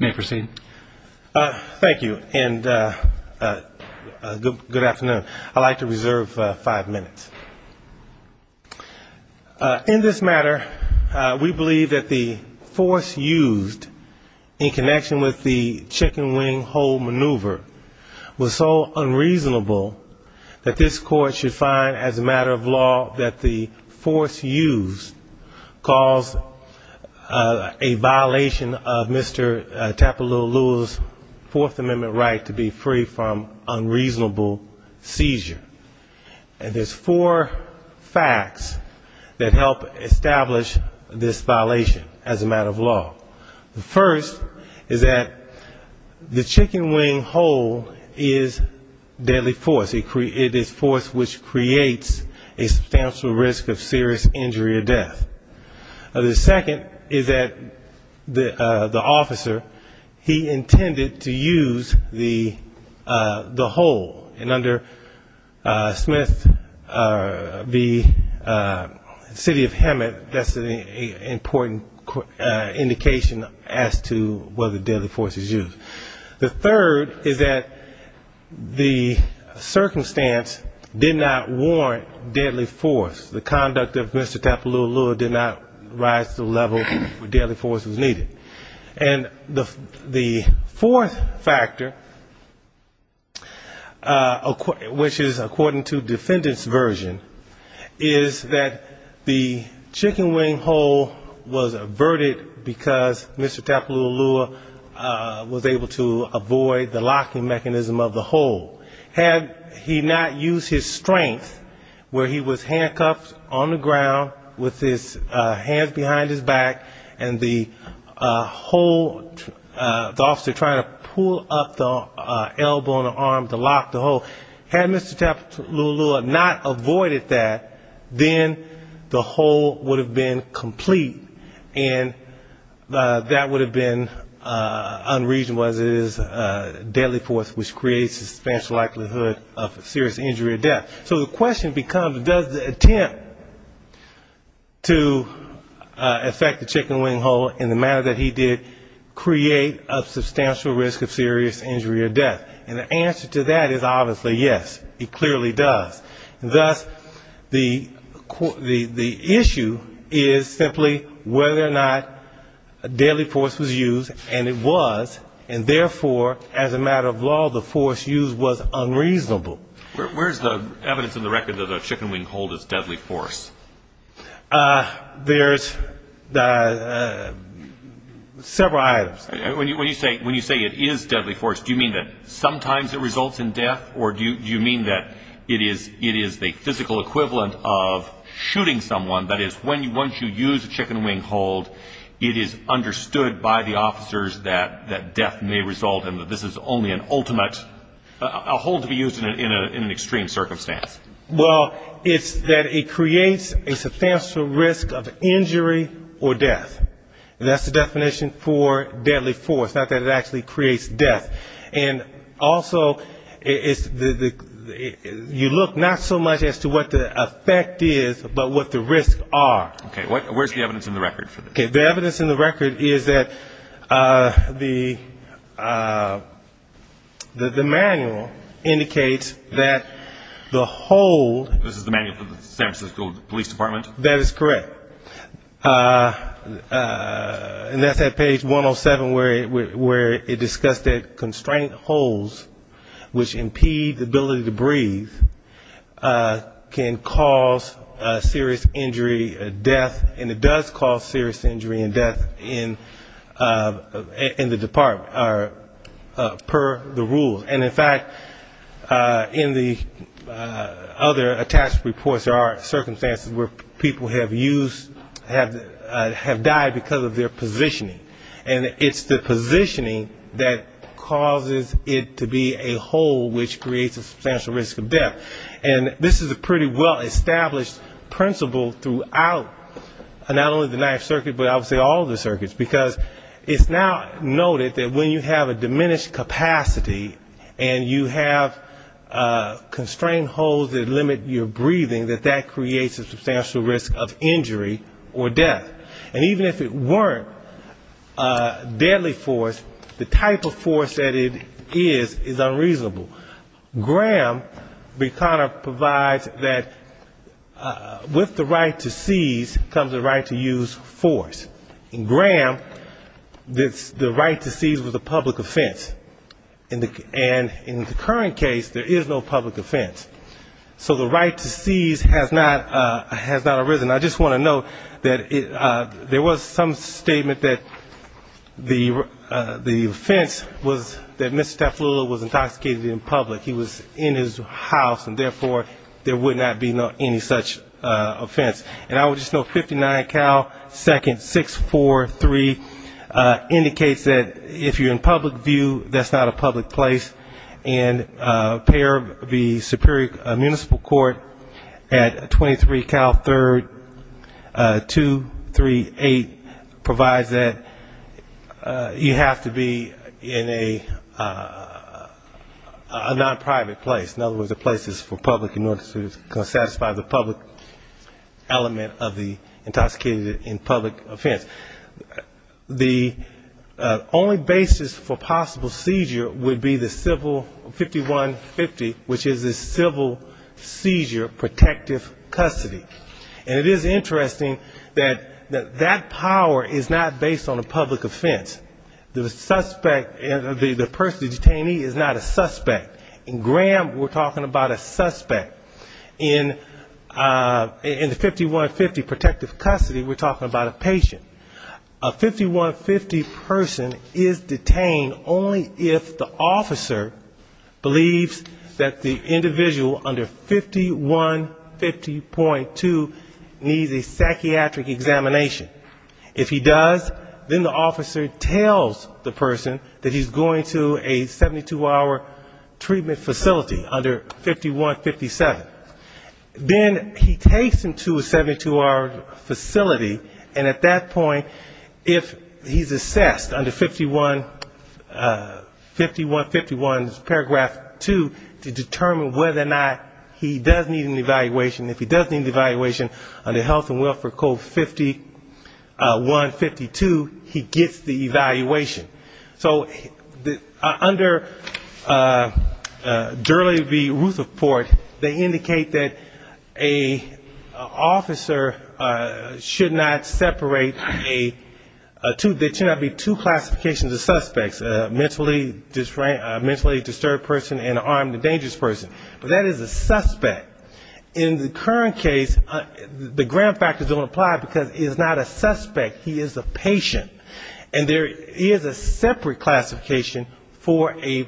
Thank you and good afternoon. I'd like to reserve five minutes. In this matter, we believe that the force used in connection with the chicken wing hold maneuver was so unreasonable that this court should find as a matter of law that the force used caused a violation of Mr. Tapueluelu's Fourth Amendment right to be free from unreasonable seizure. And there's four facts that help establish this violation as a matter of law. The first is that the chicken wing hold is deadly force. It is force which creates a substantial risk of serious injury or death. The second is that the officer, he intended to use the hold. And under Smith v. City of Hammett, that's an important indication as to whether deadly force is used. The third is that the circumstance did not warrant deadly force. The conduct of Mr. Tapueluelu did not rise to the level where deadly force was needed. And the fourth factor, which is according to defendant's version, is that the chicken wing hold was averted because Mr. Tapueluelu was able to avoid the locking mechanism of the hold. Had he not used his strength, where he was handcuffed on the ground with his hands behind his back and the hold, the officer trying to pull up the elbow and arm to lock the hold. Had Mr. Tapueluelu not avoided that, then the hold would have been complete. And that would have been unreasonable as it is deadly force, which creates a substantial likelihood of serious injury or death. So the question becomes, does the attempt to affect the chicken wing hold in the manner that he did create a substantial risk of serious injury or death? And the answer to that is obviously yes. It clearly does. Thus, the issue is simply whether or not deadly force was used, and it was, and therefore, as a matter of law, the force used was unreasonable. Where's the evidence in the record that a chicken wing hold is deadly force? There's several items. When you say it is deadly force, do you mean that sometimes it results in death, or do you mean that it is the physical equivalent of shooting someone? That is, once you use a chicken wing hold, it is understood by the officers that death may result and that this is only an ultimate, a hold to be used in an extreme circumstance. Well, it's that it creates a substantial risk of injury or death. That's the definition for deadly force, not that it actually creates death. And also, you look not so much as to what the effect is, but what the risks are. Okay, where's the evidence in the record for this? The evidence in the record is that the manual indicates that the hold- This is the manual from the San Francisco Police Department? That is correct. And that's at page 107, where it discussed that constraint holds, which impede the ability to breathe, can cause serious injury, death, and it does cause serious injury and death in the department, per the rules. And, in fact, in the other attached reports, there are circumstances where people may be able to use a chicken wing hold. Okay. Okay. Okay. Okay. Okay. Okay. Okay. I know that some people have used- Have died because of their positioning, and it's the positioning that causes it to be a hold, which creates a substantial risk of death. And this is a pretty well established principle throughout not only the ninth circuit but obviously all the circuits. Because it's now noted that when you have a diminished capacity and you have constrained holds that limit your breathing, that that creates a substantial risk of injury or death. And even if it weren't deadly force, the type of force that it is is unreasonable. Graham provides that with the right to seize comes the right to use force. In Graham, the right to seize was a public offense. And in the current case, there is no public offense. So the right to seize has not arisen. I just want to note that there was some statement that the offense was that Mr. Second 643 indicates that if you're in public view, that's not a public place. And the Superior Municipal Court at 23 Cal 3rd 238 provides that you have to be in a non-private place. In other words, a place that's for public in order to satisfy the public element of the intoxicated in public offense. The only basis for possible seizure would be the civil 5150, which is the civil seizure protective custody. And it is interesting that that power is not based on a public offense. The suspect, the person, the detainee is not a suspect. In Graham, we're talking about a suspect. In the 5150 protective custody, we're talking about a patient. A 5150 person is detained only if the officer believes that the individual under 5150.2 needs a psychiatric examination. If he does, then the officer tells the person that he's going to a 72-hour treatment facility under 5157. Then he takes him to a 72-hour facility, and at that point, if he's assessed under 5151 paragraph 2, to determine whether or not he does need an evaluation. If he does need an evaluation, under Health and Welfare Code 5152, he gets the evaluation. So under Durley v. Rutherford, they indicate that an officer should not separate a two, there should not be two classifications of suspects, a mentally disturbed person and an armed and dangerous person. But that is a suspect. In the current case, the Graham factors don't apply because he's not a suspect, he is a patient. And there is a separate classification for a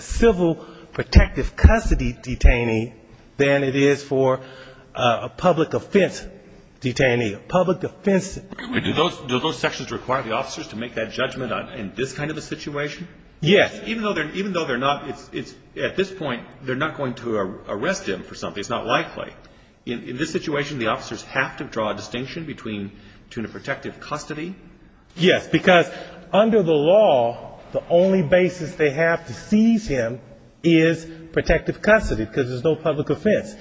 civil protective custody detainee than it is for a public offense detainee, a public offense. Do those sections require the officers to make that judgment in this kind of a situation? Yes. Even though they're not, at this point, they're not going to arrest him for something, it's not likely. In this situation, the officers have to draw a distinction between a protective custody? Yes, because under the law, the only basis they have to seize him is protective custody, because there's no public offense.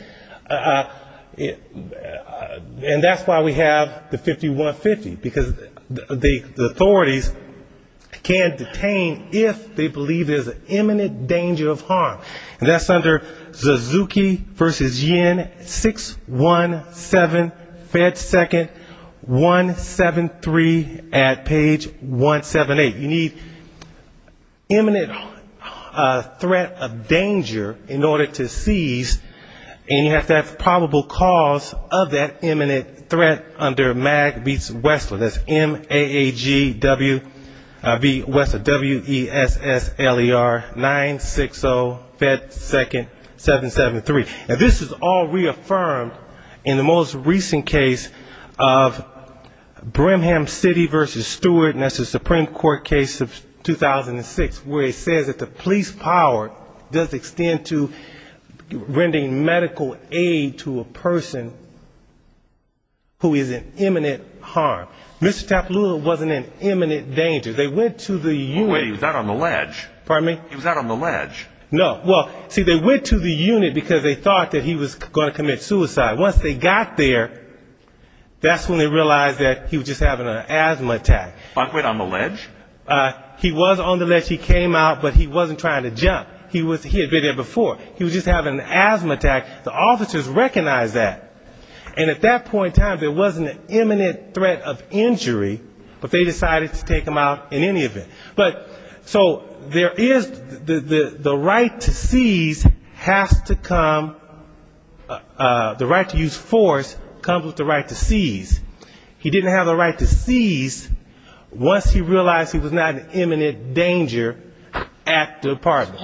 And that's why we have the 5150, because the authorities can't detain if they believe there's an imminent danger of harm. And that's under Suzuki v. Yin, 617, Fed 2nd, 173 at page 178. You need imminent threat of danger in order to seize an officer. And you have to have probable cause of that imminent threat under Mag v. Wessler, that's M-A-G-W-E-S-S-L-E-R, 960, Fed 2nd, 773. Now this is all reaffirmed in the most recent case of Brimham City v. Stewart, and that's a Supreme Court case of 2006, where it says that the police power does extend to rendering medical aid to a person who is in imminent harm. Mr. Tapalula wasn't in imminent danger. They went to the unit. Oh, wait, he was out on the ledge. He came out, but he wasn't trying to jump. He had been there before. He was just having an asthma attack. The officers recognized that. And at that point in time, there wasn't an imminent threat of injury, but they decided to take him out in any event. But so there is, the right to seize has to come, the right to use force comes with the right to seize. He didn't have the right to seize once he realized he was not in imminent danger at the apartment.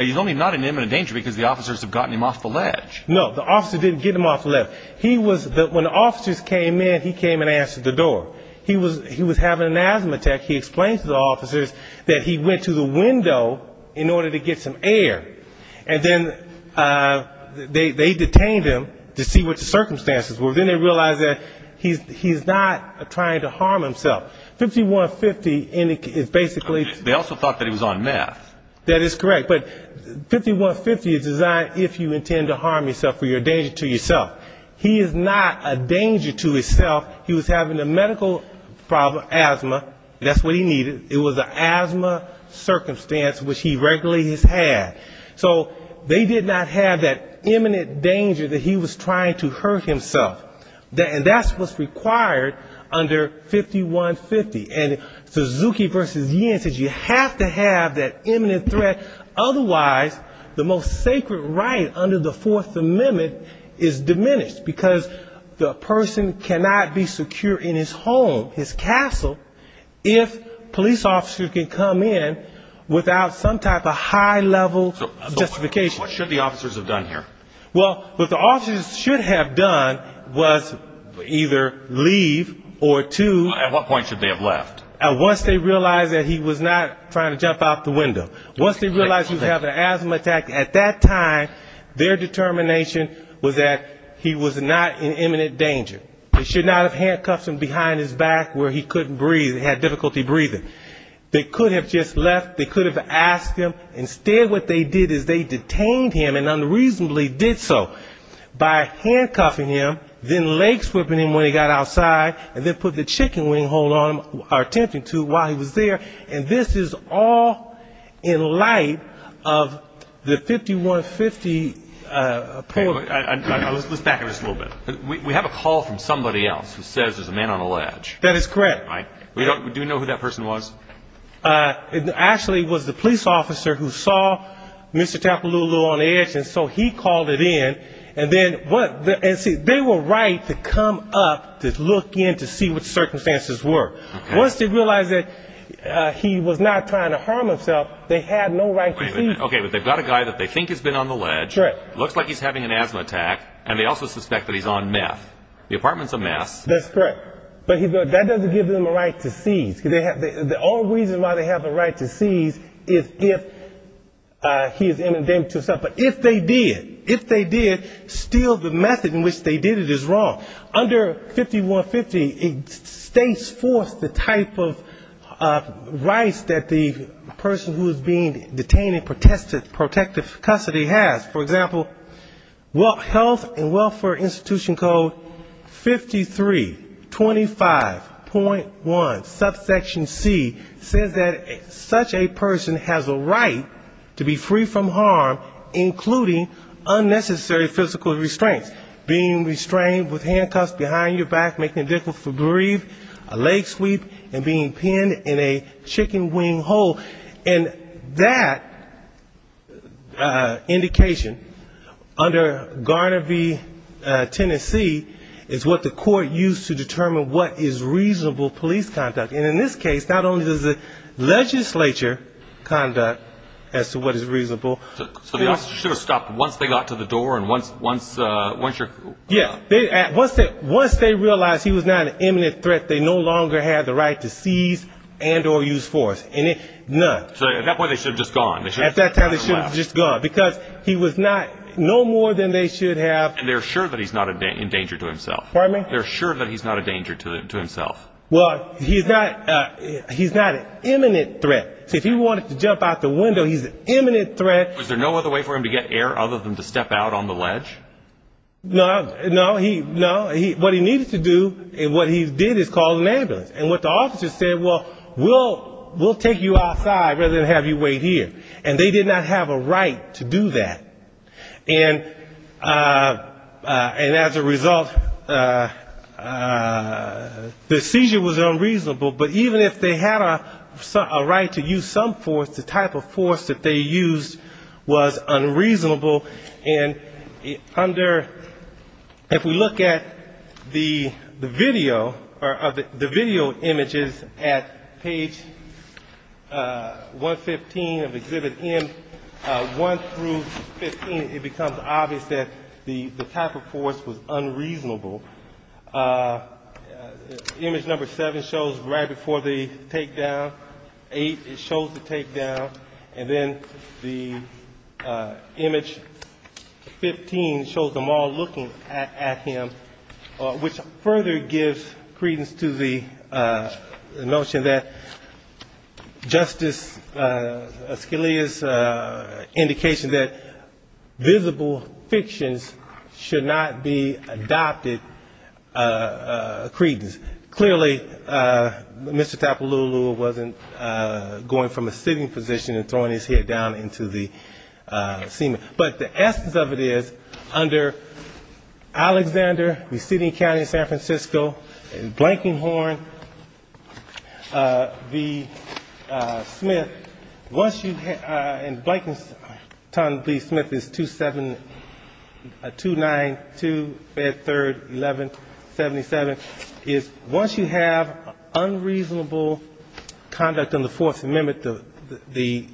He's only not in imminent danger because the officers have gotten him off the ledge. No, the officer didn't get him off the ledge. When the officers came in, he came and answered the door. He was having an asthma attack. He explained to the officers that he went to the window in order to get some air. And then they detained him to see what the circumstances were. Then they realized that he's not trying to harm himself. 5150 is basically... They also thought that it was on meth. That is correct, but 5150 is designed if you intend to harm yourself or you're a danger to yourself. He is not a danger to himself. He was having a medical problem, asthma. That's what he needed, it was an asthma circumstance which he regularly has had. So they did not have that imminent danger that he was trying to hurt himself. And that's what's required under 5150. And Suzuki v. Yen says you have to have that imminent threat, otherwise the most sacred right under the Fourth Amendment is diminished. Because the person cannot be secure in his home, his castle, if police officers can come in without some type of high-level justification. What should the officers have done here? Well, what the officers should have done was either leave or to... At what point should they have left? Once they realized that he was not trying to jump out the window. Once they realized he was having an asthma attack, at that time their determination was that he was not in imminent danger. They should not have handcuffed him behind his back where he couldn't breathe, he had difficulty breathing. They could have just left, they could have asked him. Instead what they did is they detained him and unreasonably did so, by handcuffing him, then leg-sweeping him when he got outside, and then put the chicken wing hold on him while he was there. And this is all in light of the 5150... Let's back up just a little bit. We have a call from somebody else who says there's a man on a ledge. That is correct. Do you know who that person was? Actually it was the police officer who saw Mr. Tapalooloo on the edge and so he called it in. They were right to come up to look in to see what the circumstances were. Once they realized that he was not trying to harm himself, they had no right to see him. Okay, but they've got a guy that they think has been on the ledge, looks like he's having an asthma attack, and they also suspect that he's on meth. The apartment's on meth. That's correct. But that doesn't give them a right to seize. The only reason why they have a right to seize is if he has inundated himself. But if they did, if they did, still the method in which they did it is wrong. Under 5150 it states forth the type of rights that the person who is being detained in protective custody has. For example, health and welfare institution code 5325.1, subsection C, says that such a person has a right to be free from harm, including unnecessary physical restraints, being restrained with handcuffs behind your back, making it difficult to breathe, a leg sweep, and being pinned in a chicken wing hole. And that indication, under Garner v. Tennessee, is what the court used to determine what is reasonable police conduct. And in this case, not only does the legislature conduct as to what is reasonable... So the officers should have stopped once they got to the door and once your... Yeah, once they realized he was not an imminent threat, they no longer had the right to seize and or use force. So at that point they should have just gone. And they're sure that he's not in danger to himself. Well, he's not an imminent threat. So if he wanted to jump out the window, he's an imminent threat. Was there no other way for him to get air other than to step out on the ledge? No, what he needed to do, what he did, is call an ambulance. And what the officers said, well, we'll take you outside rather than have you wait here. And they did not have a right to do that. And as a result, the seizure was unreasonable. But even if they had a right to use some force, the type of force that they used was unreasonable. And under, if we look at the video, or the video footage, the video images at page 115 of Exhibit M, one through 15, it becomes obvious that the type of force was unreasonable. Image number seven shows right before the takedown. Eight, it shows the takedown. And then the image 15 shows them all looking at him, which further gives credence to the notion that Justice Scalia's indication that visible fictions should not be adopted credence. Clearly, Mr. Tapalooloo wasn't going from a sitting position and throwing his head down into the ceiling. But the essence of it is, under Alexander, the city and county of San Francisco, and Blankenhorn v. Smith, and Blankenhorn v. Smith is 2-9-2-5-3-11-77, is once you have unreasonable conduct on the Fourth Amendment, the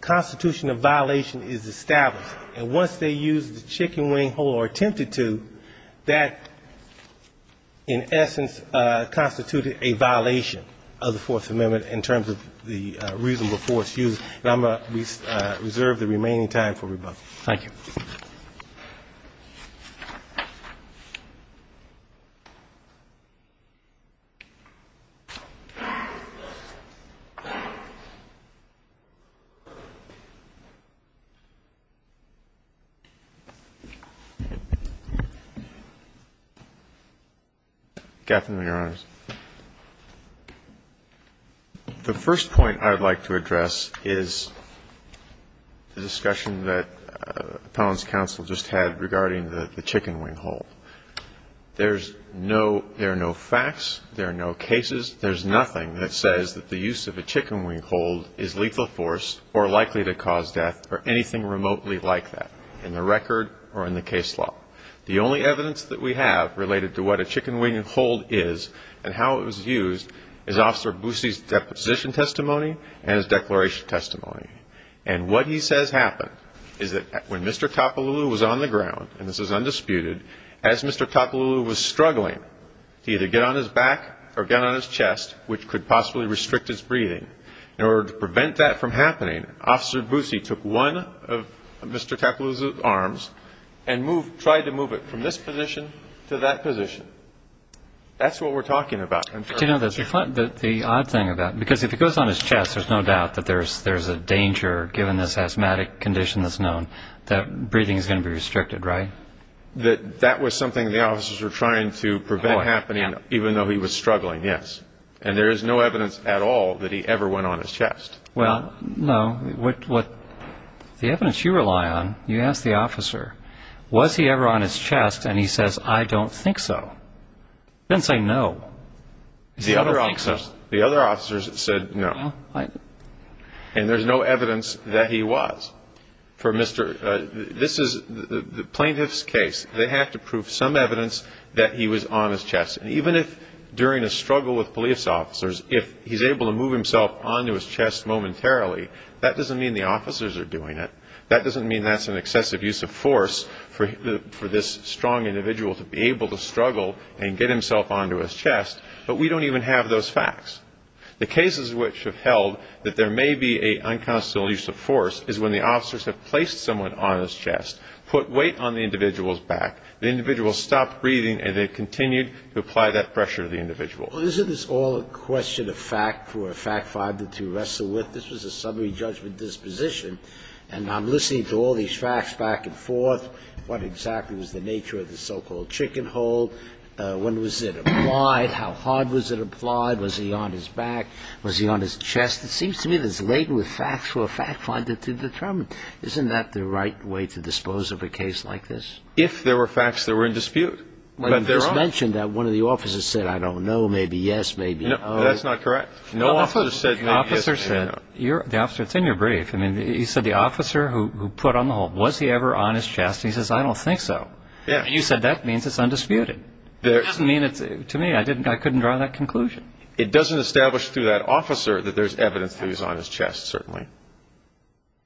constitution of violation is established. And once they use the chicken wing hole or attempted to, that, in essence, constituted a violation of the Fourth Amendment in terms of the reasonable force used. And I'm going to reserve the remaining time for rebuttal. Thank you. Roberts. Gaffin, Your Honors. The first point I would like to address is the discussion that Appellant's Counsel just had regarding the chicken wing hole. There are no facts. There are no cases. There's nothing that says that the use of a chicken wing hole is lethal force or likely to cause death or anything remotely like that in the record or in the case law. The only evidence that we have related to what a chicken wing hole is and how it was used is Officer Boosie's deposition testimony and his declaration testimony. And what he says happened is that when Mr. Topolulu was on the ground, and this is undisputed, as Mr. Topolulu was struggling to either get on his back or get on his chest, which could possibly restrict his breathing, in order to prevent that from happening, Officer Boosie took one of Mr. Topolulu's arms and moved, tried to move it from this position to that position. That's what we're talking about. But you know, the odd thing about it, because if it goes on his chest, there's no doubt that there's a danger, given this asthmatic condition that's known, that breathing is going to be restricted, right? That was something the officers were trying to prevent happening, even though he was struggling, yes. And there is no evidence at all that he ever went on his chest. Well, no. The evidence you rely on, you ask the officer, was he ever on his chest, and he says, I don't think so. He doesn't say no. The other officers said no. And there's no evidence that he was. This is the plaintiff's case. They have to prove some evidence that he was on his chest. And even if during a struggle with police officers, if he's able to move himself onto his chest momentarily, that doesn't mean the officers are doing it. That doesn't mean that's an excessive use of force for this strong individual to be able to struggle and get himself onto his chest. But we don't even have those facts. The cases which have held that there may be an unconstitutional use of force is when the officers have placed someone on his chest, put weight on the individual's back, the individual stopped breathing, and they continued to apply that pressure to the individual. Well, isn't this all a question of fact for a fact finder to wrestle with? This was a summary judgment disposition, and I'm listening to all these facts back and forth. What exactly was the nature of the so-called chicken hole? When was it applied? How hard was it applied? Was he on his back? Was he on his chest? It seems to me that it's laden with facts for a fact finder to determine. Isn't that the right way to dispose of a case like this? If there were facts that were in dispute. You mentioned that one of the officers said, I don't know, maybe yes, maybe no. That's not correct. The officer said, it's in your brief. You said the officer who put on the hole, was he ever on his chest? He says, I don't think so. You said that means it's undisputed. It doesn't mean to me I couldn't draw that conclusion. It doesn't establish through that officer that there's evidence that he was on his chest, certainly.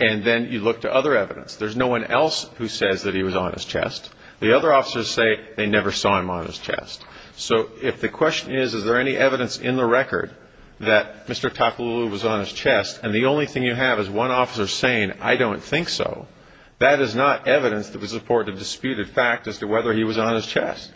And then you look to other evidence. There's no one else who says that he was on his chest. The other officers say they never saw him on his chest. So if the question is, is there any evidence in the record that Mr. Tapalula was on his chest, and the only thing you have is one officer saying, I don't think so, that is not evidence that would support a disputed fact as to whether he was on his chest.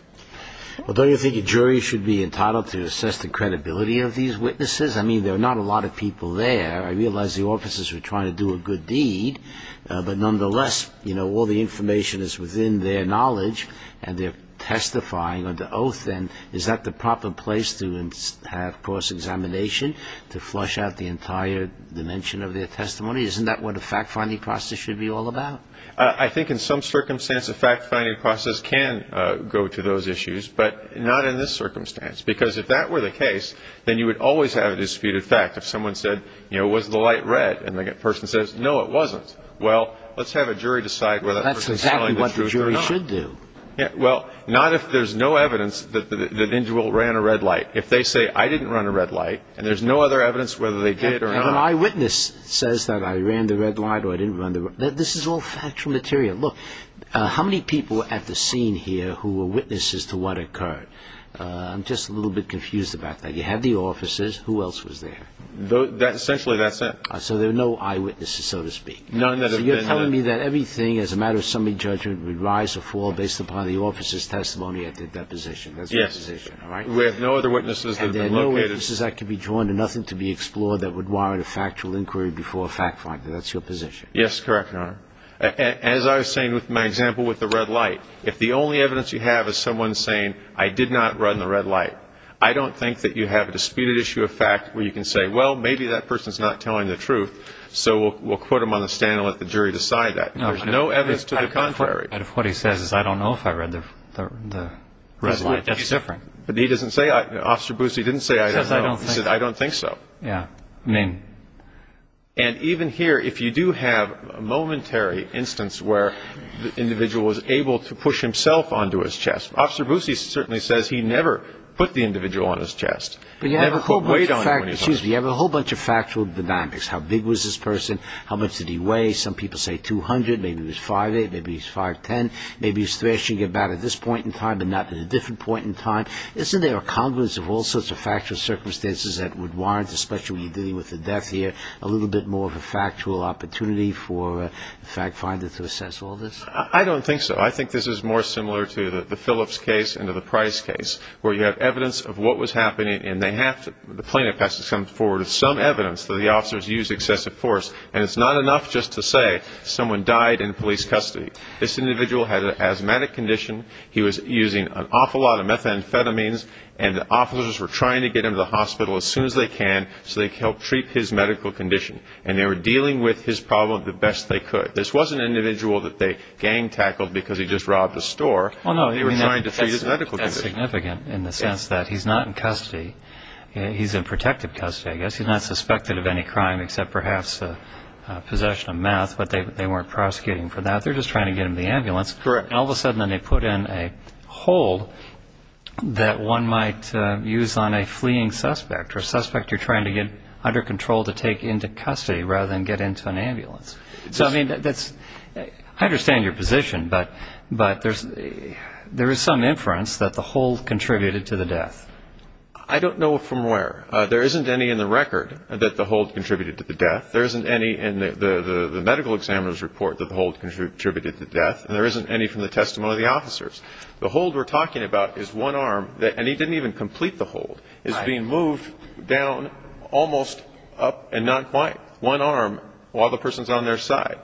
Well, don't you think a jury should be entitled to assess the credibility of these witnesses? I mean, there are not a lot of people there. I realize the officers were trying to do a good deed. But nonetheless, all the information is within their knowledge, and they're testifying under oath. And is that the proper place to have cross-examination, to flush out the entire dimension of their testimony? Isn't that what a fact-finding process should be all about? I think in some circumstances, a fact-finding process can go to those issues, but not in this circumstance. Because if that were the case, then you would always have a disputed fact. If someone said, you know, was the light red, and the person says, no, it wasn't, well, let's have a jury decide whether that person is telling the truth or not. That's exactly what the jury should do. Well, not if there's no evidence that Indwell ran a red light. If they say, I didn't run a red light, and there's no other evidence whether they did or not. And an eyewitness says that I ran the red light or I didn't run the red light. This is all factual material. Look, how many people at the scene here who were witnesses to what occurred? I'm just a little bit confused about that. You had the officers. Who else was there? Essentially, that's it. So there are no eyewitnesses, so to speak. None that have been there. So you're telling me that everything, as a matter of summary judgment, would rise or fall based upon the officers' testimony at their deposition. Yes. That's your position, all right? We have no other witnesses that have been located. And there are no witnesses that could be joined and nothing to be explored that would warrant a factual inquiry before a fact-finding. That's your position. Yes, correct, Your Honor. As I was saying with my example with the red light, if the only evidence you have is someone saying, I did not run the red light, I don't think that you have a disputed issue of fact where you can say, well, maybe that person's not telling the truth, so we'll quote them on the stand and let the jury decide that. There's no evidence to the contrary. What he says is, I don't know if I ran the red light. That's different. But he doesn't say, Officer Boose, he didn't say, I don't know. He said, I don't think so. Yeah, I mean. And even here, if you do have a momentary instance where the individual was able to push himself onto his chest, Officer Boose certainly says he never put the individual on his chest. But you have a whole bunch of factual dynamics. How big was this person? How much did he weigh? Some people say 200. Maybe he was 5'8", maybe he was 5'10". Maybe he's thrashing about at this point in time and not at a different point in time. Isn't there a congruence of all sorts of factual circumstances that would warrant, especially when you're dealing with the death here, a little bit more of a factual opportunity for the fact finder to assess all this? I don't think so. I think this is more similar to the Phillips case and to the Price case, where you have evidence of what was happening, and the plaintiff has to come forward with some evidence that the officers used excessive force. And it's not enough just to say someone died in police custody. This individual had an asthmatic condition. He was using an awful lot of methamphetamines, and the officers were trying to get him to the hospital as soon as they can so they could help treat his medical condition. And they were dealing with his problem the best they could. This wasn't an individual that they gang-tackled because he just robbed a store. They were trying to treat his medical condition. That's significant in the sense that he's not in custody. He's in protective custody, I guess. He's not suspected of any crime except perhaps possession of meth, but they weren't prosecuting him for that. They were just trying to get him to the ambulance. Correct. And all of a sudden they put in a hold that one might use on a fleeing suspect or a suspect you're trying to get under control to take into custody rather than get into an ambulance. So, I mean, I understand your position, but there is some inference that the hold contributed to the death. I don't know from where. There isn't any in the record that the hold contributed to the death. There isn't any in the medical examiner's report that the hold contributed to the death, and there isn't any from the testimony of the officers. The hold we're talking about is one arm, and he didn't even complete the hold. It's being moved down, almost up, and not quite. One arm while the person's on their side.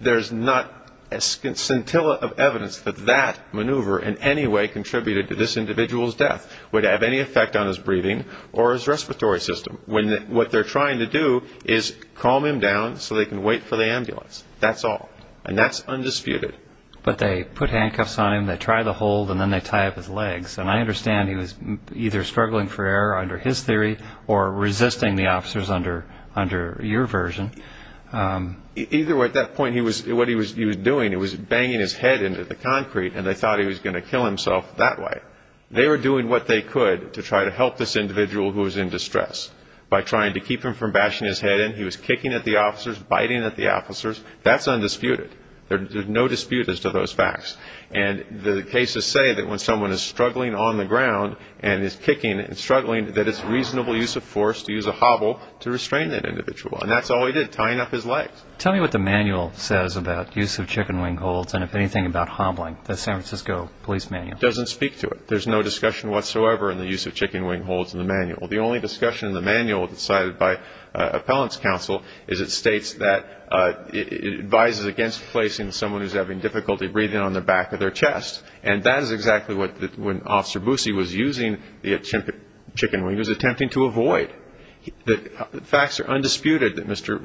There's not a scintilla of evidence that that maneuver in any way contributed to this individual's death, would have any effect on his breathing or his respiratory system. What they're trying to do is calm him down so they can wait for the ambulance. That's all, and that's undisputed. But they put handcuffs on him, they try the hold, and then they tie up his legs, and I understand he was either struggling for air under his theory or resisting the officers under your version. Either way, at that point what he was doing, he was banging his head into the concrete, and they thought he was going to kill himself that way. They were doing what they could to try to help this individual who was in distress by trying to keep him from bashing his head in. He was kicking at the officers, biting at the officers. That's undisputed. There's no dispute as to those facts, and the cases say that when someone is struggling on the ground and is kicking and struggling, that it's reasonable use of force to use a hobble to restrain that individual, and that's all he did, tying up his legs. Tell me what the manual says about use of chicken wing holds and, if anything, about hobbling, the San Francisco police manual. It doesn't speak to it. There's no discussion whatsoever in the use of chicken wing holds in the manual. The only discussion in the manual cited by appellant's counsel is it states that it advises against placing someone who's having difficulty breathing on the back of their chest, and that is exactly what Officer Busse was using the chicken wing. He was attempting to avoid. The facts are undisputed that Mr.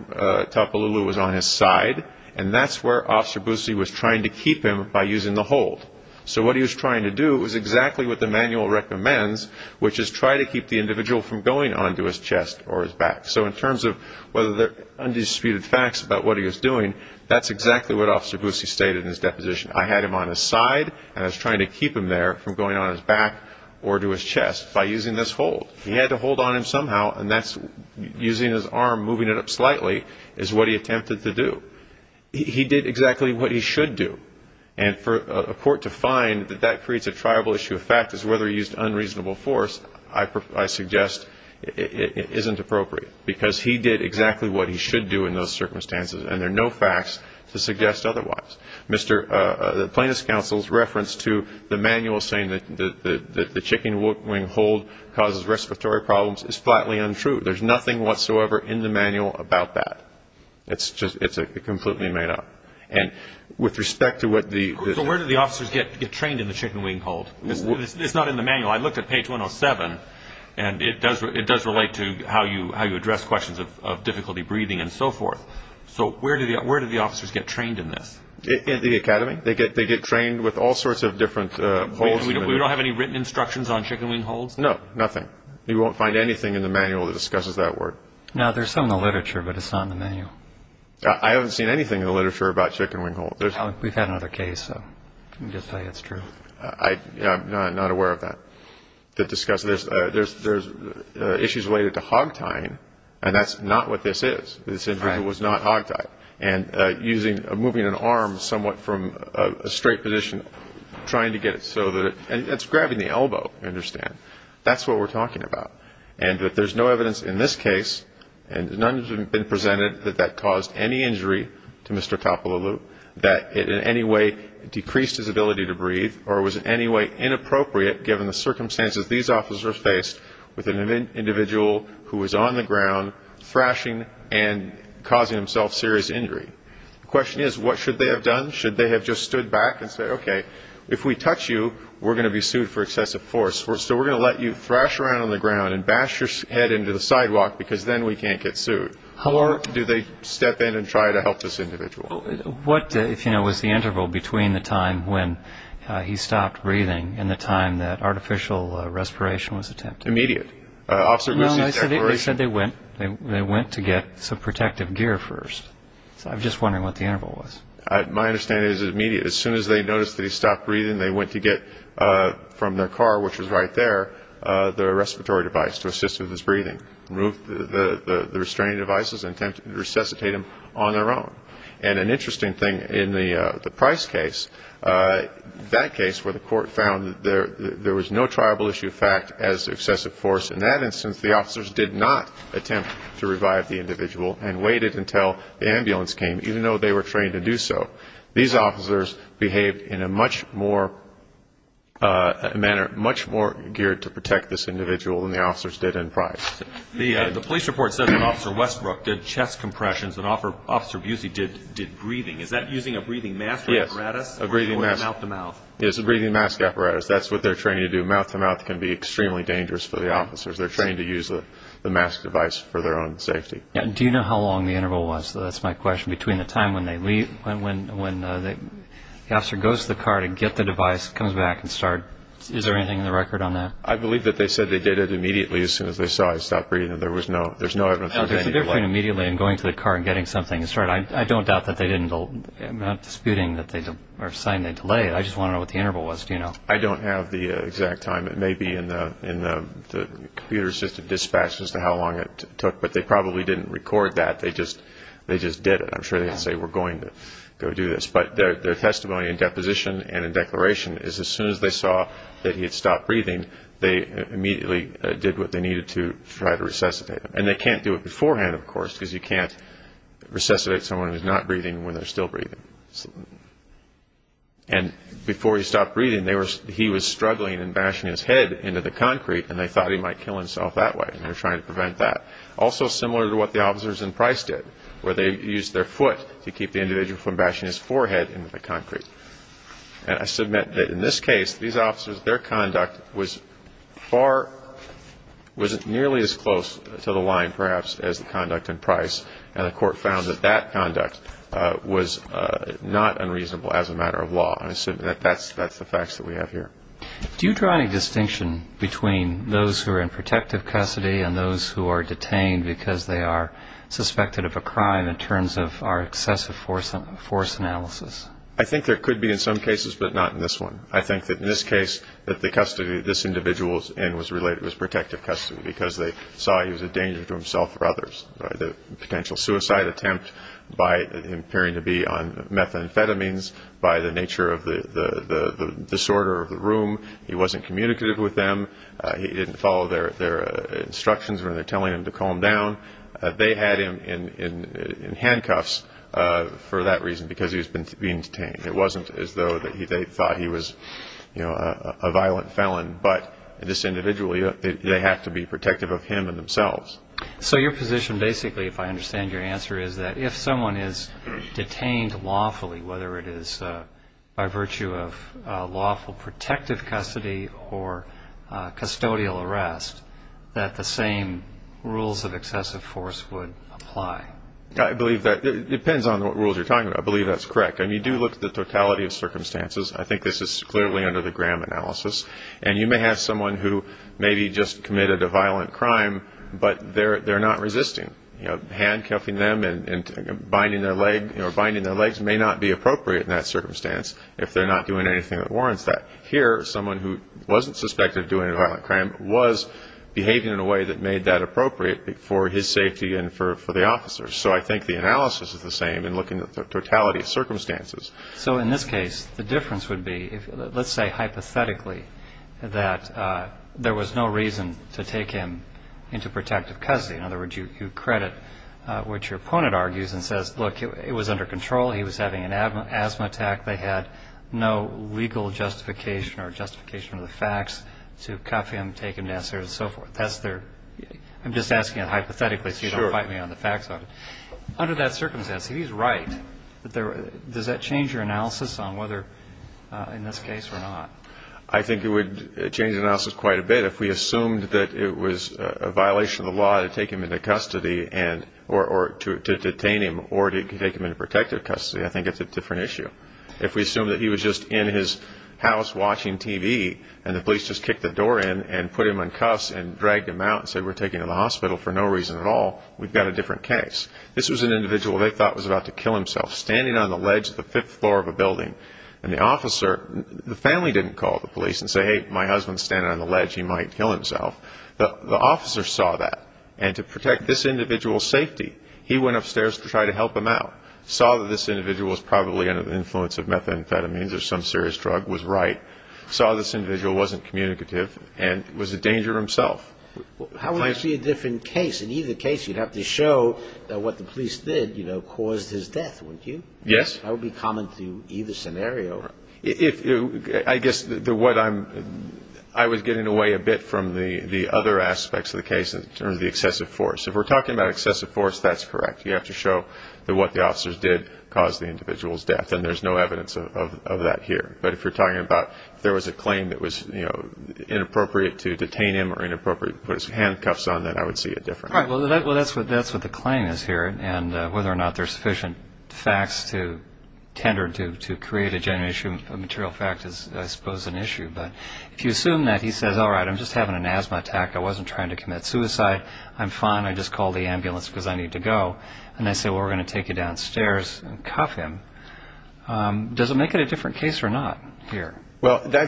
Topolulu was on his side, and that's where Officer Busse was trying to keep him by using the hold. So what he was trying to do is exactly what the manual recommends, which is try to keep the individual from going onto his chest or his back. So in terms of whether there are undisputed facts about what he was doing, that's exactly what Officer Busse stated in his deposition. I had him on his side, and I was trying to keep him there from going on his back or to his chest by using this hold. He had to hold on him somehow, and that's using his arm, moving it up slightly, is what he attempted to do. He did exactly what he should do. And for a court to find that that creates a triable issue of fact is whether he used unreasonable force, I suggest it isn't appropriate because he did exactly what he should do in those circumstances, and there are no facts to suggest otherwise. The plaintiff's counsel's reference to the manual saying that the chicken wing hold causes respiratory problems is flatly untrue. There's nothing whatsoever in the manual about that. It's completely made up. And with respect to what the – So where did the officers get trained in the chicken wing hold? It's not in the manual. Well, I looked at page 107, and it does relate to how you address questions of difficulty breathing and so forth. So where did the officers get trained in this? In the academy. They get trained with all sorts of different holds. We don't have any written instructions on chicken wing holds? No, nothing. You won't find anything in the manual that discusses that word. No, there's some in the literature, but it's not in the manual. I haven't seen anything in the literature about chicken wing hold. We've had another case, so I can just tell you it's true. I'm not aware of that. To discuss this, there's issues related to hog tying, and that's not what this is. This injury was not hog tie. And using – moving an arm somewhat from a straight position, trying to get it so that it – and it's grabbing the elbow, I understand. That's what we're talking about. And that there's no evidence in this case, and none has been presented, that that caused any injury to Mr. Kapalalu, that it in any way decreased his ability to breathe, or was in any way inappropriate given the circumstances these officers faced with an individual who was on the ground, thrashing and causing himself serious injury. The question is, what should they have done? Should they have just stood back and said, okay, if we touch you, we're going to be sued for excessive force. So we're going to let you thrash around on the ground and bash your head into the sidewalk because then we can't get sued. Or do they step in and try to help this individual? What, if you know, was the interval between the time when he stopped breathing and the time that artificial respiration was attempted? Immediate. Well, they said they went. They went to get some protective gear first. So I'm just wondering what the interval was. My understanding is it was immediate. As soon as they noticed that he stopped breathing, they went to get from their car, which was right there, their respiratory device to assist with his breathing, removed the restraining devices and attempted to resuscitate him on their own. And an interesting thing in the Price case, that case where the court found that there was no triable issue of fact as excessive force, in that instance the officers did not attempt to revive the individual and waited until the ambulance came, even though they were trained to do so. These officers behaved in a much more manner, much more geared to protect this individual than the officers did in Price. The police report says that Officer Westbrook did chest compressions and Officer Busey did breathing. Is that using a breathing mask apparatus? Yes, a breathing mask. Or mouth-to-mouth? It's a breathing mask apparatus. That's what they're trained to do. Mouth-to-mouth can be extremely dangerous for the officers. They're trained to use the mask device for their own safety. Do you know how long the interval was? That's my question. Between the time when they leave, when the officer goes to the car to get the device, comes back and starts, is there anything in the record on that? I believe that they said they did it immediately as soon as they saw I stopped breathing. There was no evidence of any delay. No, there's a difference between immediately and going to the car and getting something and starting. I don't doubt that they didn't, I'm not disputing or saying they delayed it. I just want to know what the interval was. Do you know? I don't have the exact time. It may be in the computer-assisted dispatch as to how long it took, but they probably didn't record that. They just did it. I'm sure they didn't say, we're going to go do this. But their testimony in deposition and in declaration is as soon as they saw that he had stopped breathing, they immediately did what they needed to try to resuscitate him. And they can't do it beforehand, of course, because you can't resuscitate someone who's not breathing when they're still breathing. And before he stopped breathing, he was struggling and bashing his head into the concrete, and they thought he might kill himself that way, and they were trying to prevent that. Also similar to what the officers in Price did, where they used their foot to keep the individual from bashing his forehead into the concrete. And I submit that in this case, these officers, their conduct was far, was nearly as close to the line, perhaps, as the conduct in Price, and the court found that that conduct was not unreasonable as a matter of law. And I assume that that's the facts that we have here. Do you draw any distinction between those who are in protective custody and those who are detained because they are suspected of a crime in terms of our excessive force analysis? I think there could be in some cases, but not in this one. I think that in this case, that the custody this individual was in was related, was protective custody because they saw he was a danger to himself or others. The potential suicide attempt by appearing to be on methamphetamines, by the nature of the disorder of the room. He wasn't communicative with them. He didn't follow their instructions when they were telling him to calm down. They had him in handcuffs for that reason, because he was being detained. It wasn't as though they thought he was a violent felon, but this individual, they have to be protective of him and themselves. So your position, basically, if I understand your answer, is that if someone is detained lawfully, whether it is by virtue of lawful protective custody or custodial arrest, that the same rules of excessive force would apply. I believe that depends on what rules you're talking about. I believe that's correct. You do look at the totality of circumstances. I think this is clearly under the Graham analysis. You may have someone who maybe just committed a violent crime, but they're not resisting. Handcuffing them and binding their legs may not be appropriate in that circumstance if they're not doing anything that warrants that. Here, someone who wasn't suspected of doing a violent crime was behaving in a way that made that appropriate for his safety and for the officer's. So I think the analysis is the same in looking at the totality of circumstances. So in this case, the difference would be, let's say hypothetically, that there was no reason to take him into protective custody. In other words, you credit what your opponent argues and says, look, it was under control, he was having an asthma attack, they had no legal justification or justification of the facts to cuff him, take him downstairs and so forth. I'm just asking it hypothetically so you don't fight me on the facts on it. Under that circumstance, if he's right, does that change your analysis on whether in this case or not? I think it would change the analysis quite a bit. If we assumed that it was a violation of the law to take him into custody or to detain him or to take him into protective custody, I think it's a different issue. If we assume that he was just in his house watching TV and the police just kicked the door in and put him in cuffs and dragged him out and said we're taking him to the hospital for no reason at all, we've got a different case. This was an individual they thought was about to kill himself standing on the ledge of the fifth floor of a building, and the family didn't call the police and say, hey, my husband's standing on the ledge, he might kill himself. The officer saw that, and to protect this individual's safety, he went upstairs to try to help him out, saw that this individual was probably under the influence of methamphetamines or some serious drug, was right, saw this individual wasn't communicative, and was a danger himself. How would you see a different case? In either case, you'd have to show what the police did, you know, caused his death, wouldn't you? Yes. That would be common to either scenario. I guess I was getting away a bit from the other aspects of the case in terms of the excessive force. If we're talking about excessive force, that's correct. You have to show what the officers did caused the individual's death, and there's no evidence of that here. But if you're talking about if there was a claim that was, you know, inappropriate to detain him or inappropriate to put his handcuffs on, then I would see it differently. Right. Well, that's what the claim is here, and whether or not there's sufficient facts to tender to create a genuine issue, a material fact, is, I suppose, an issue. But if you assume that he says, all right, I'm just having an asthma attack, I wasn't trying to commit suicide, I'm fine, I just called the ambulance because I need to go, and they say, well, we're going to take you downstairs and cuff him, does it make it a different case or not here? Well, there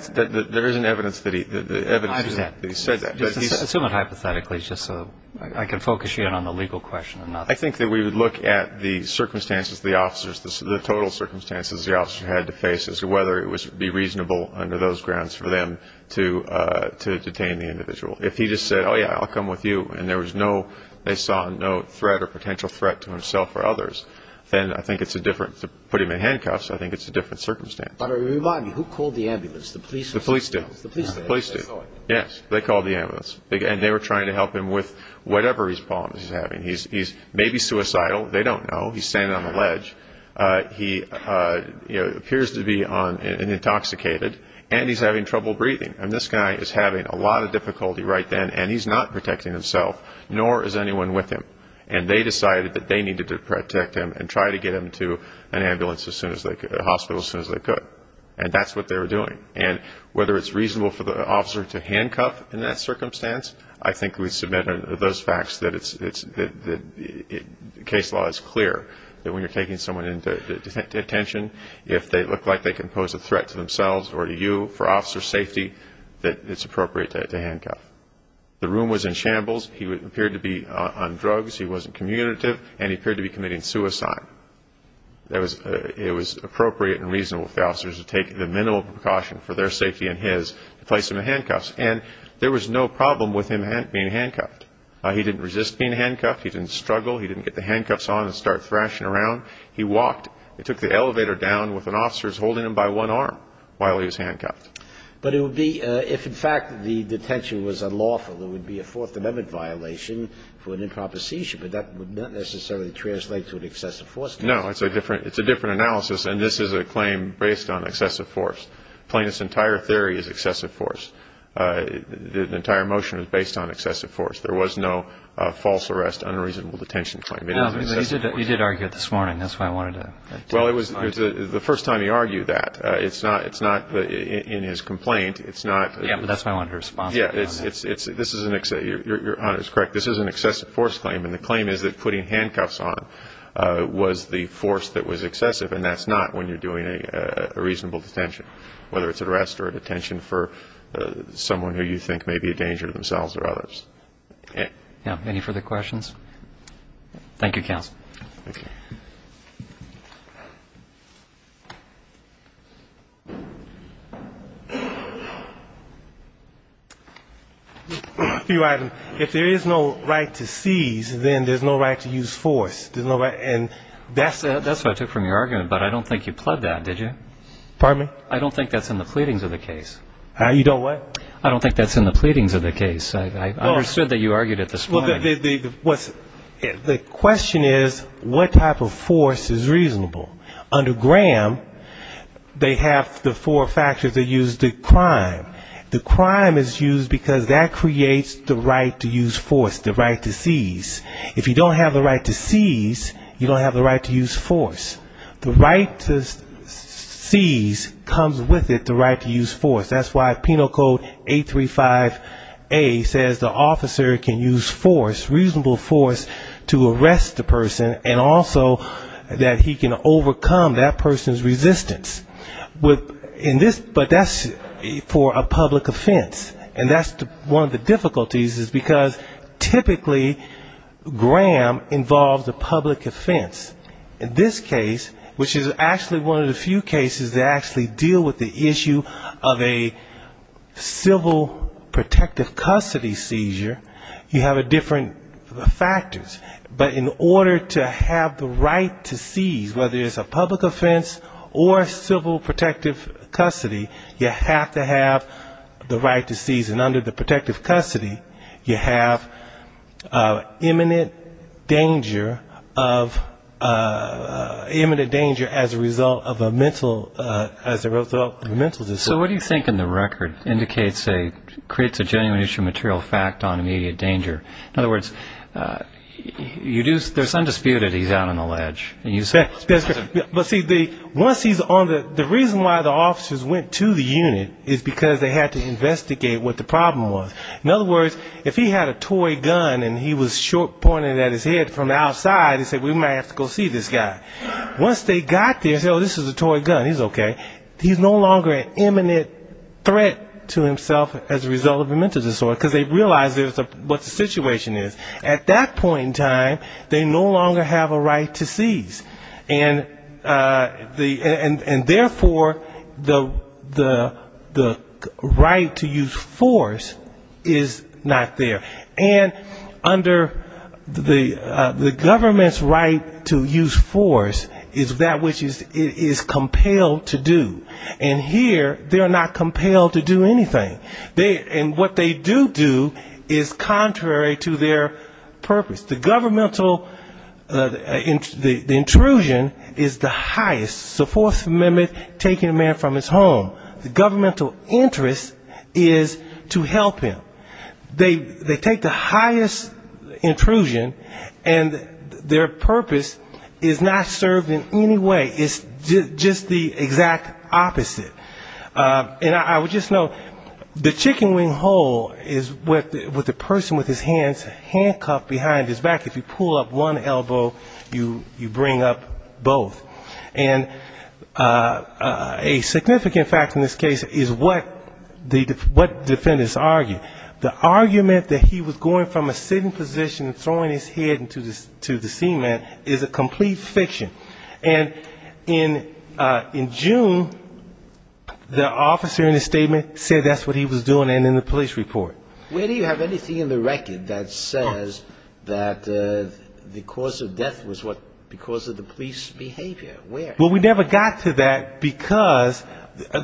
is an evidence that he said that. Assume it hypothetically just so I can focus you in on the legal question. I think that we would look at the circumstances, the officers, the total circumstances the officer had to face as to whether it would be reasonable under those grounds for them to detain the individual. If he just said, oh, yeah, I'll come with you, and there was no – they saw no threat or potential threat to himself or others, then I think it's a different – to put him in handcuffs, I think it's a different circumstance. But remind me, who called the ambulance, the police? The police did. The police did. Yes, they called the ambulance, and they were trying to help him with whatever problems he's having. He's maybe suicidal. They don't know. He's standing on a ledge. He appears to be intoxicated, and he's having trouble breathing. And this guy is having a lot of difficulty right then, and he's not protecting himself, nor is anyone with him. And they decided that they needed to protect him and try to get him to an ambulance as soon as they could – a hospital as soon as they could. And that's what they were doing. And whether it's reasonable for the officer to handcuff in that circumstance, I think we submit those facts that it's – the case law is clear that when you're taking someone into detention, if they look like they can pose a threat to themselves or to you for officer safety, that it's appropriate to handcuff. The room was in shambles. He appeared to be on drugs, he wasn't communicative, and he appeared to be committing suicide. It was appropriate and reasonable for the officers to take the minimal precaution for their safety and his to place him in handcuffs. And there was no problem with him being handcuffed. He didn't resist being handcuffed. He didn't struggle. He didn't get the handcuffs on and start thrashing around. He walked. They took the elevator down with the officers holding him by one arm while he was handcuffed. But it would be – if, in fact, the detention was unlawful, it would be a Fourth Amendment violation for an improper seizure, but that would not necessarily translate to an excessive force. No, it's a different analysis, and this is a claim based on excessive force. Plaintiff's entire theory is excessive force. The entire motion is based on excessive force. There was no false arrest, unreasonable detention claim. No, but you did argue it this morning. That's why I wanted to – Well, it was the first time he argued that. It's not – in his complaint, it's not – Yeah, but that's why I wanted to respond to you on that. Yeah, this is an – your honor is correct. This is an excessive force claim, and the claim is that putting handcuffs on was the force that was excessive, and that's not when you're doing a reasonable detention, whether it's an arrest or a detention for someone who you think may be a danger to themselves or others. Any further questions? Thank you, counsel. Thank you. If there is no right to seize, then there's no right to use force. That's what I took from your argument, but I don't think you pled that, did you? Pardon me? I don't think that's in the pleadings of the case. You don't what? I don't think that's in the pleadings of the case. I understood that you argued it this morning. Well, the question is what type of force is reasonable. Under Graham, they have the four factors that use the crime. The crime is used because that creates the right to use force, the right to seize. If you don't have the right to seize, you don't have the right to use force. The right to seize comes with it the right to use force. That's why Penal Code 835A says the officer can use force, reasonable force, to arrest the person and also that he can overcome that person's resistance. But that's for a public offense, and that's one of the difficulties is because typically Graham involves a public offense. In this case, which is actually one of the few cases that actually deal with the issue of a civil protective custody seizure, you have different factors. But in order to have the right to seize, whether it's a public offense or civil protective custody, you have to have the right to seize. And under the protective custody, you have imminent danger as a result of a mental disorder. So what do you think in the record indicates a genuine issue of material fact on immediate danger? In other words, there's undisputed he's out on the ledge. But see, once he's on the ledge, the reason why the officers went to the unit is because they had to investigate what the problem was. In other words, if he had a toy gun and he was short pointed at his head from outside, he said, we might have to go see this guy. Once they got there and said, oh, this is a toy gun, he's okay, he's no longer an imminent threat to himself as a result of a mental disorder, because they realized what the situation is. At that point in time, they no longer have a right to seize. And therefore, the right to use force is not there. And under the government's right to use force is that which it is compelled to do. And here, they're not compelled to do anything. And what they do do is contrary to their purpose. The intrusion is the highest. So Fourth Amendment, taking a man from his home. The governmental interest is to help him. They take the highest intrusion, and their purpose is not served in any way. It's just the exact opposite. And I would just note, the chicken wing hole is what the person with his hands handcuffed behind his back. If you pull up one elbow, you bring up both. And a significant fact in this case is what defendants argued. The argument that he was going from a sitting position and throwing his head into the cement is a complete fiction. And in June, the officer in the statement said that's what he was doing, and in the police report. Where do you have anything in the record that says that the cause of death was because of the police behavior? Where? Well, we never got to that, because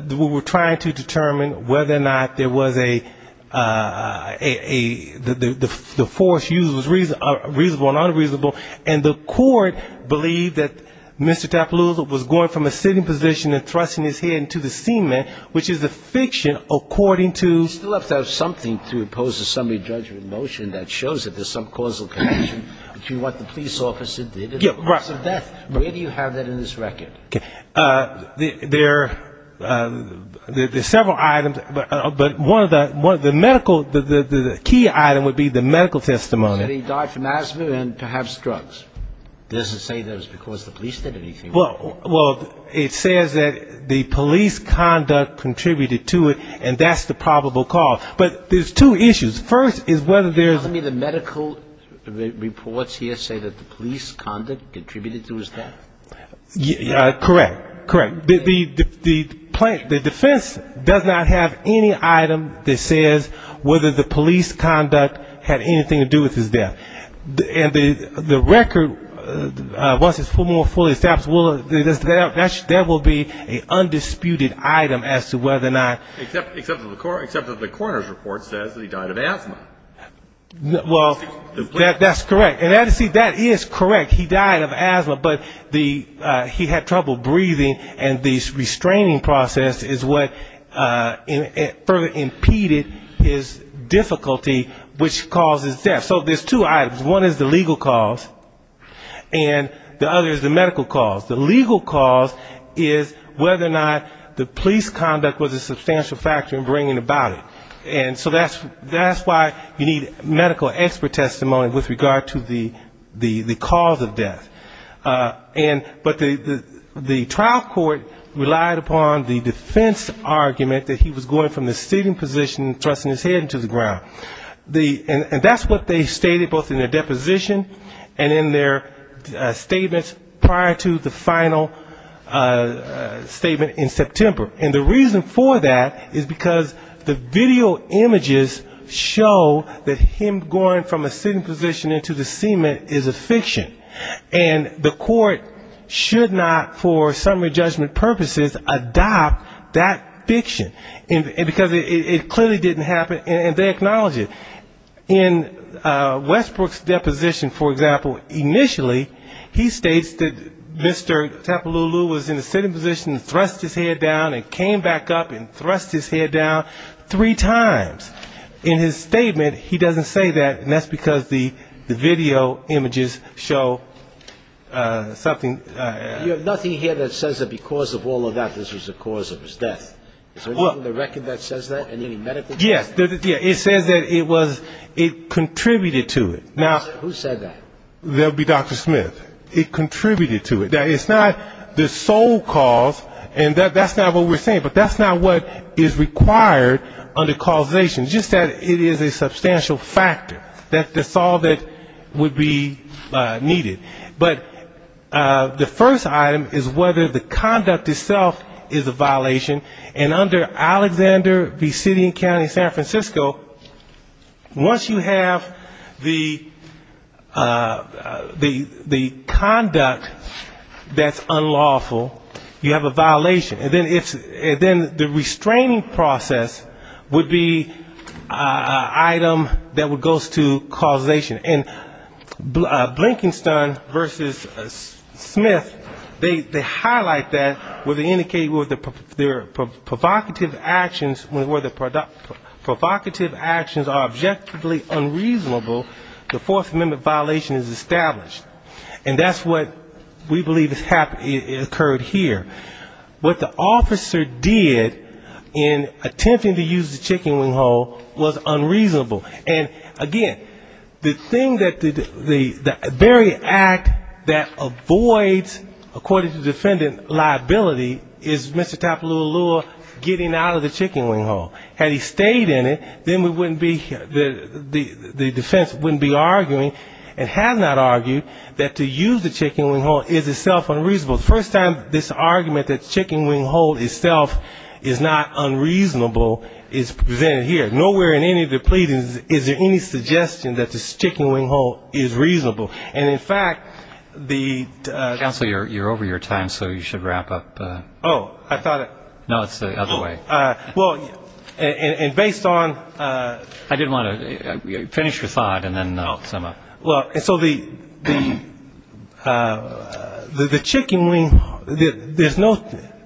we were trying to determine whether or not there was a the force used was reasonable or unreasonable. And the court believed that Mr. Tappalooza was going from a sitting position and thrusting his head into the cement, which is a fiction, according to Still have to have something to oppose a summary judgment motion that shows that there's some causal connection between what the police officer did and the cause of death. Where do you have that in this record? There are several items, but one of the medical, the key item would be the medical testimony. That he died from asthma and perhaps drugs. It doesn't say that it was because the police did anything. Well, it says that the police conduct contributed to it, and that's the probable cause. But there's two issues. First is whether there's any of the medical reports here say that the police conduct contributed to his death. Correct. Correct. The defense does not have any item that says whether the police conduct had anything to do with his death. And the record, once it's more fully established, there will be an undisputed item as to whether or not... Except that the coroner's report says that he died of asthma. Well, that's correct. And that is correct, he died of asthma, but he had trouble breathing, and the restraining process is what further impeded his difficulty, which causes death. So there's two items, one is the legal cause, and the other is the medical cause. The legal cause is whether or not the police conduct was a substantial factor in bringing about it. And so that's why you need medical expert testimony with regard to the cause of death. But the trial court relied upon the defense argument that he was going from the sitting position, thrusting his head into the ground. And that's what they stated both in their deposition and in their statements prior to the final statement in September. And the reason for that is because the video images show that him going from a sitting position into the cement is a fiction. And the court should not, for summary judgment purposes, adopt that fiction, because it clearly didn't happen. And they acknowledge it. In Westbrook's deposition, for example, initially he states that Mr. Tapalooloo was in a sitting position, thrust his head down, and came back up and thrust his head down three times. In his statement, he doesn't say that, and that's because the video images show something. You have nothing here that says that because of all of that, this was the cause of his death. Is there anything in the record that says that, any medical test? Yes, it says that it contributed to it. Who said that? That would be Dr. Smith. It contributed to it. It's not the sole cause, and that's not what we're saying, but that's not what is required under causation. Just that it is a substantial factor, that's all that would be needed. But the first item is whether the conduct itself is a violation. And under Alexander v. City and County of San Francisco, once you have the conduct that's unlawful, you have a violation. And then the restraining process would be an item that would go to causation. And Blinkenstein v. Smith, they highlight that where they indicate their provocative actions are objectively unreasonable, the Fourth Amendment violation is established. And that's what we believe occurred here. What the officer did in attempting to use the chicken wing hole was unreasonable. And again, the thing that the very act that avoids, according to the defendant, liability is Mr. Tapalula Lua getting out of the chicken wing hole. Had he stayed in it, then we wouldn't be, the defense wouldn't be arguing, and has not argued, that to use the chicken wing hole is itself unreasonable. The first time this argument that the chicken wing hole itself is not unreasonable is presented here. Nowhere in any of the pleadings is there any suggestion that this chicken wing hole is reasonable. And in fact, the --. Counsel, you're over your time, so you should wrap up. No, it's the other way. Well, and based on the chicken wing hole, there's no,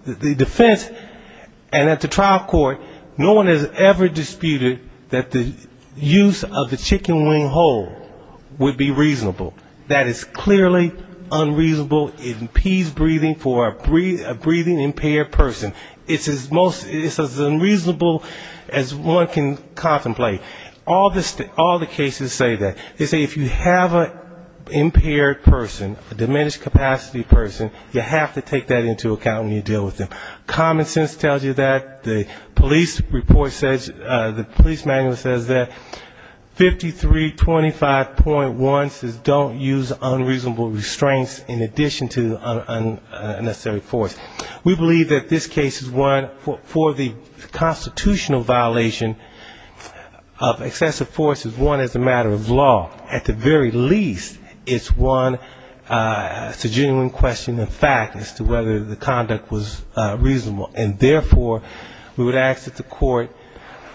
the defense, and at the trial court, no one has ever disputed that the use of the chicken wing hole would be reasonable. That is clearly unreasonable, it impedes breathing for a breathing-impaired person. It's as most, it's as unreasonable as one can contemplate. All the cases say that, they say if you have an impaired person, a diminished capacity person, you have to take that into account when you deal with them. Common sense tells you that, the police report says, the police manual says that 5325.1 says don't use unreasonable restraints in addition to unnecessary force. We believe that this case is one for the constitutional violation of excessive force is one as a matter of law. At the very least, it's one, it's a genuine question of fact as to whether the conduct was reasonable. And therefore, we would ask that the court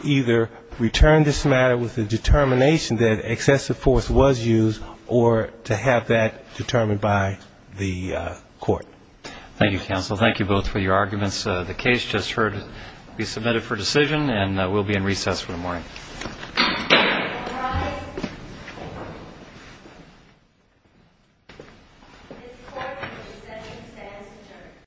either return this matter with the determination that excessive force was used, or to have that determined by the court. Thank you counsel, thank you both for your arguments.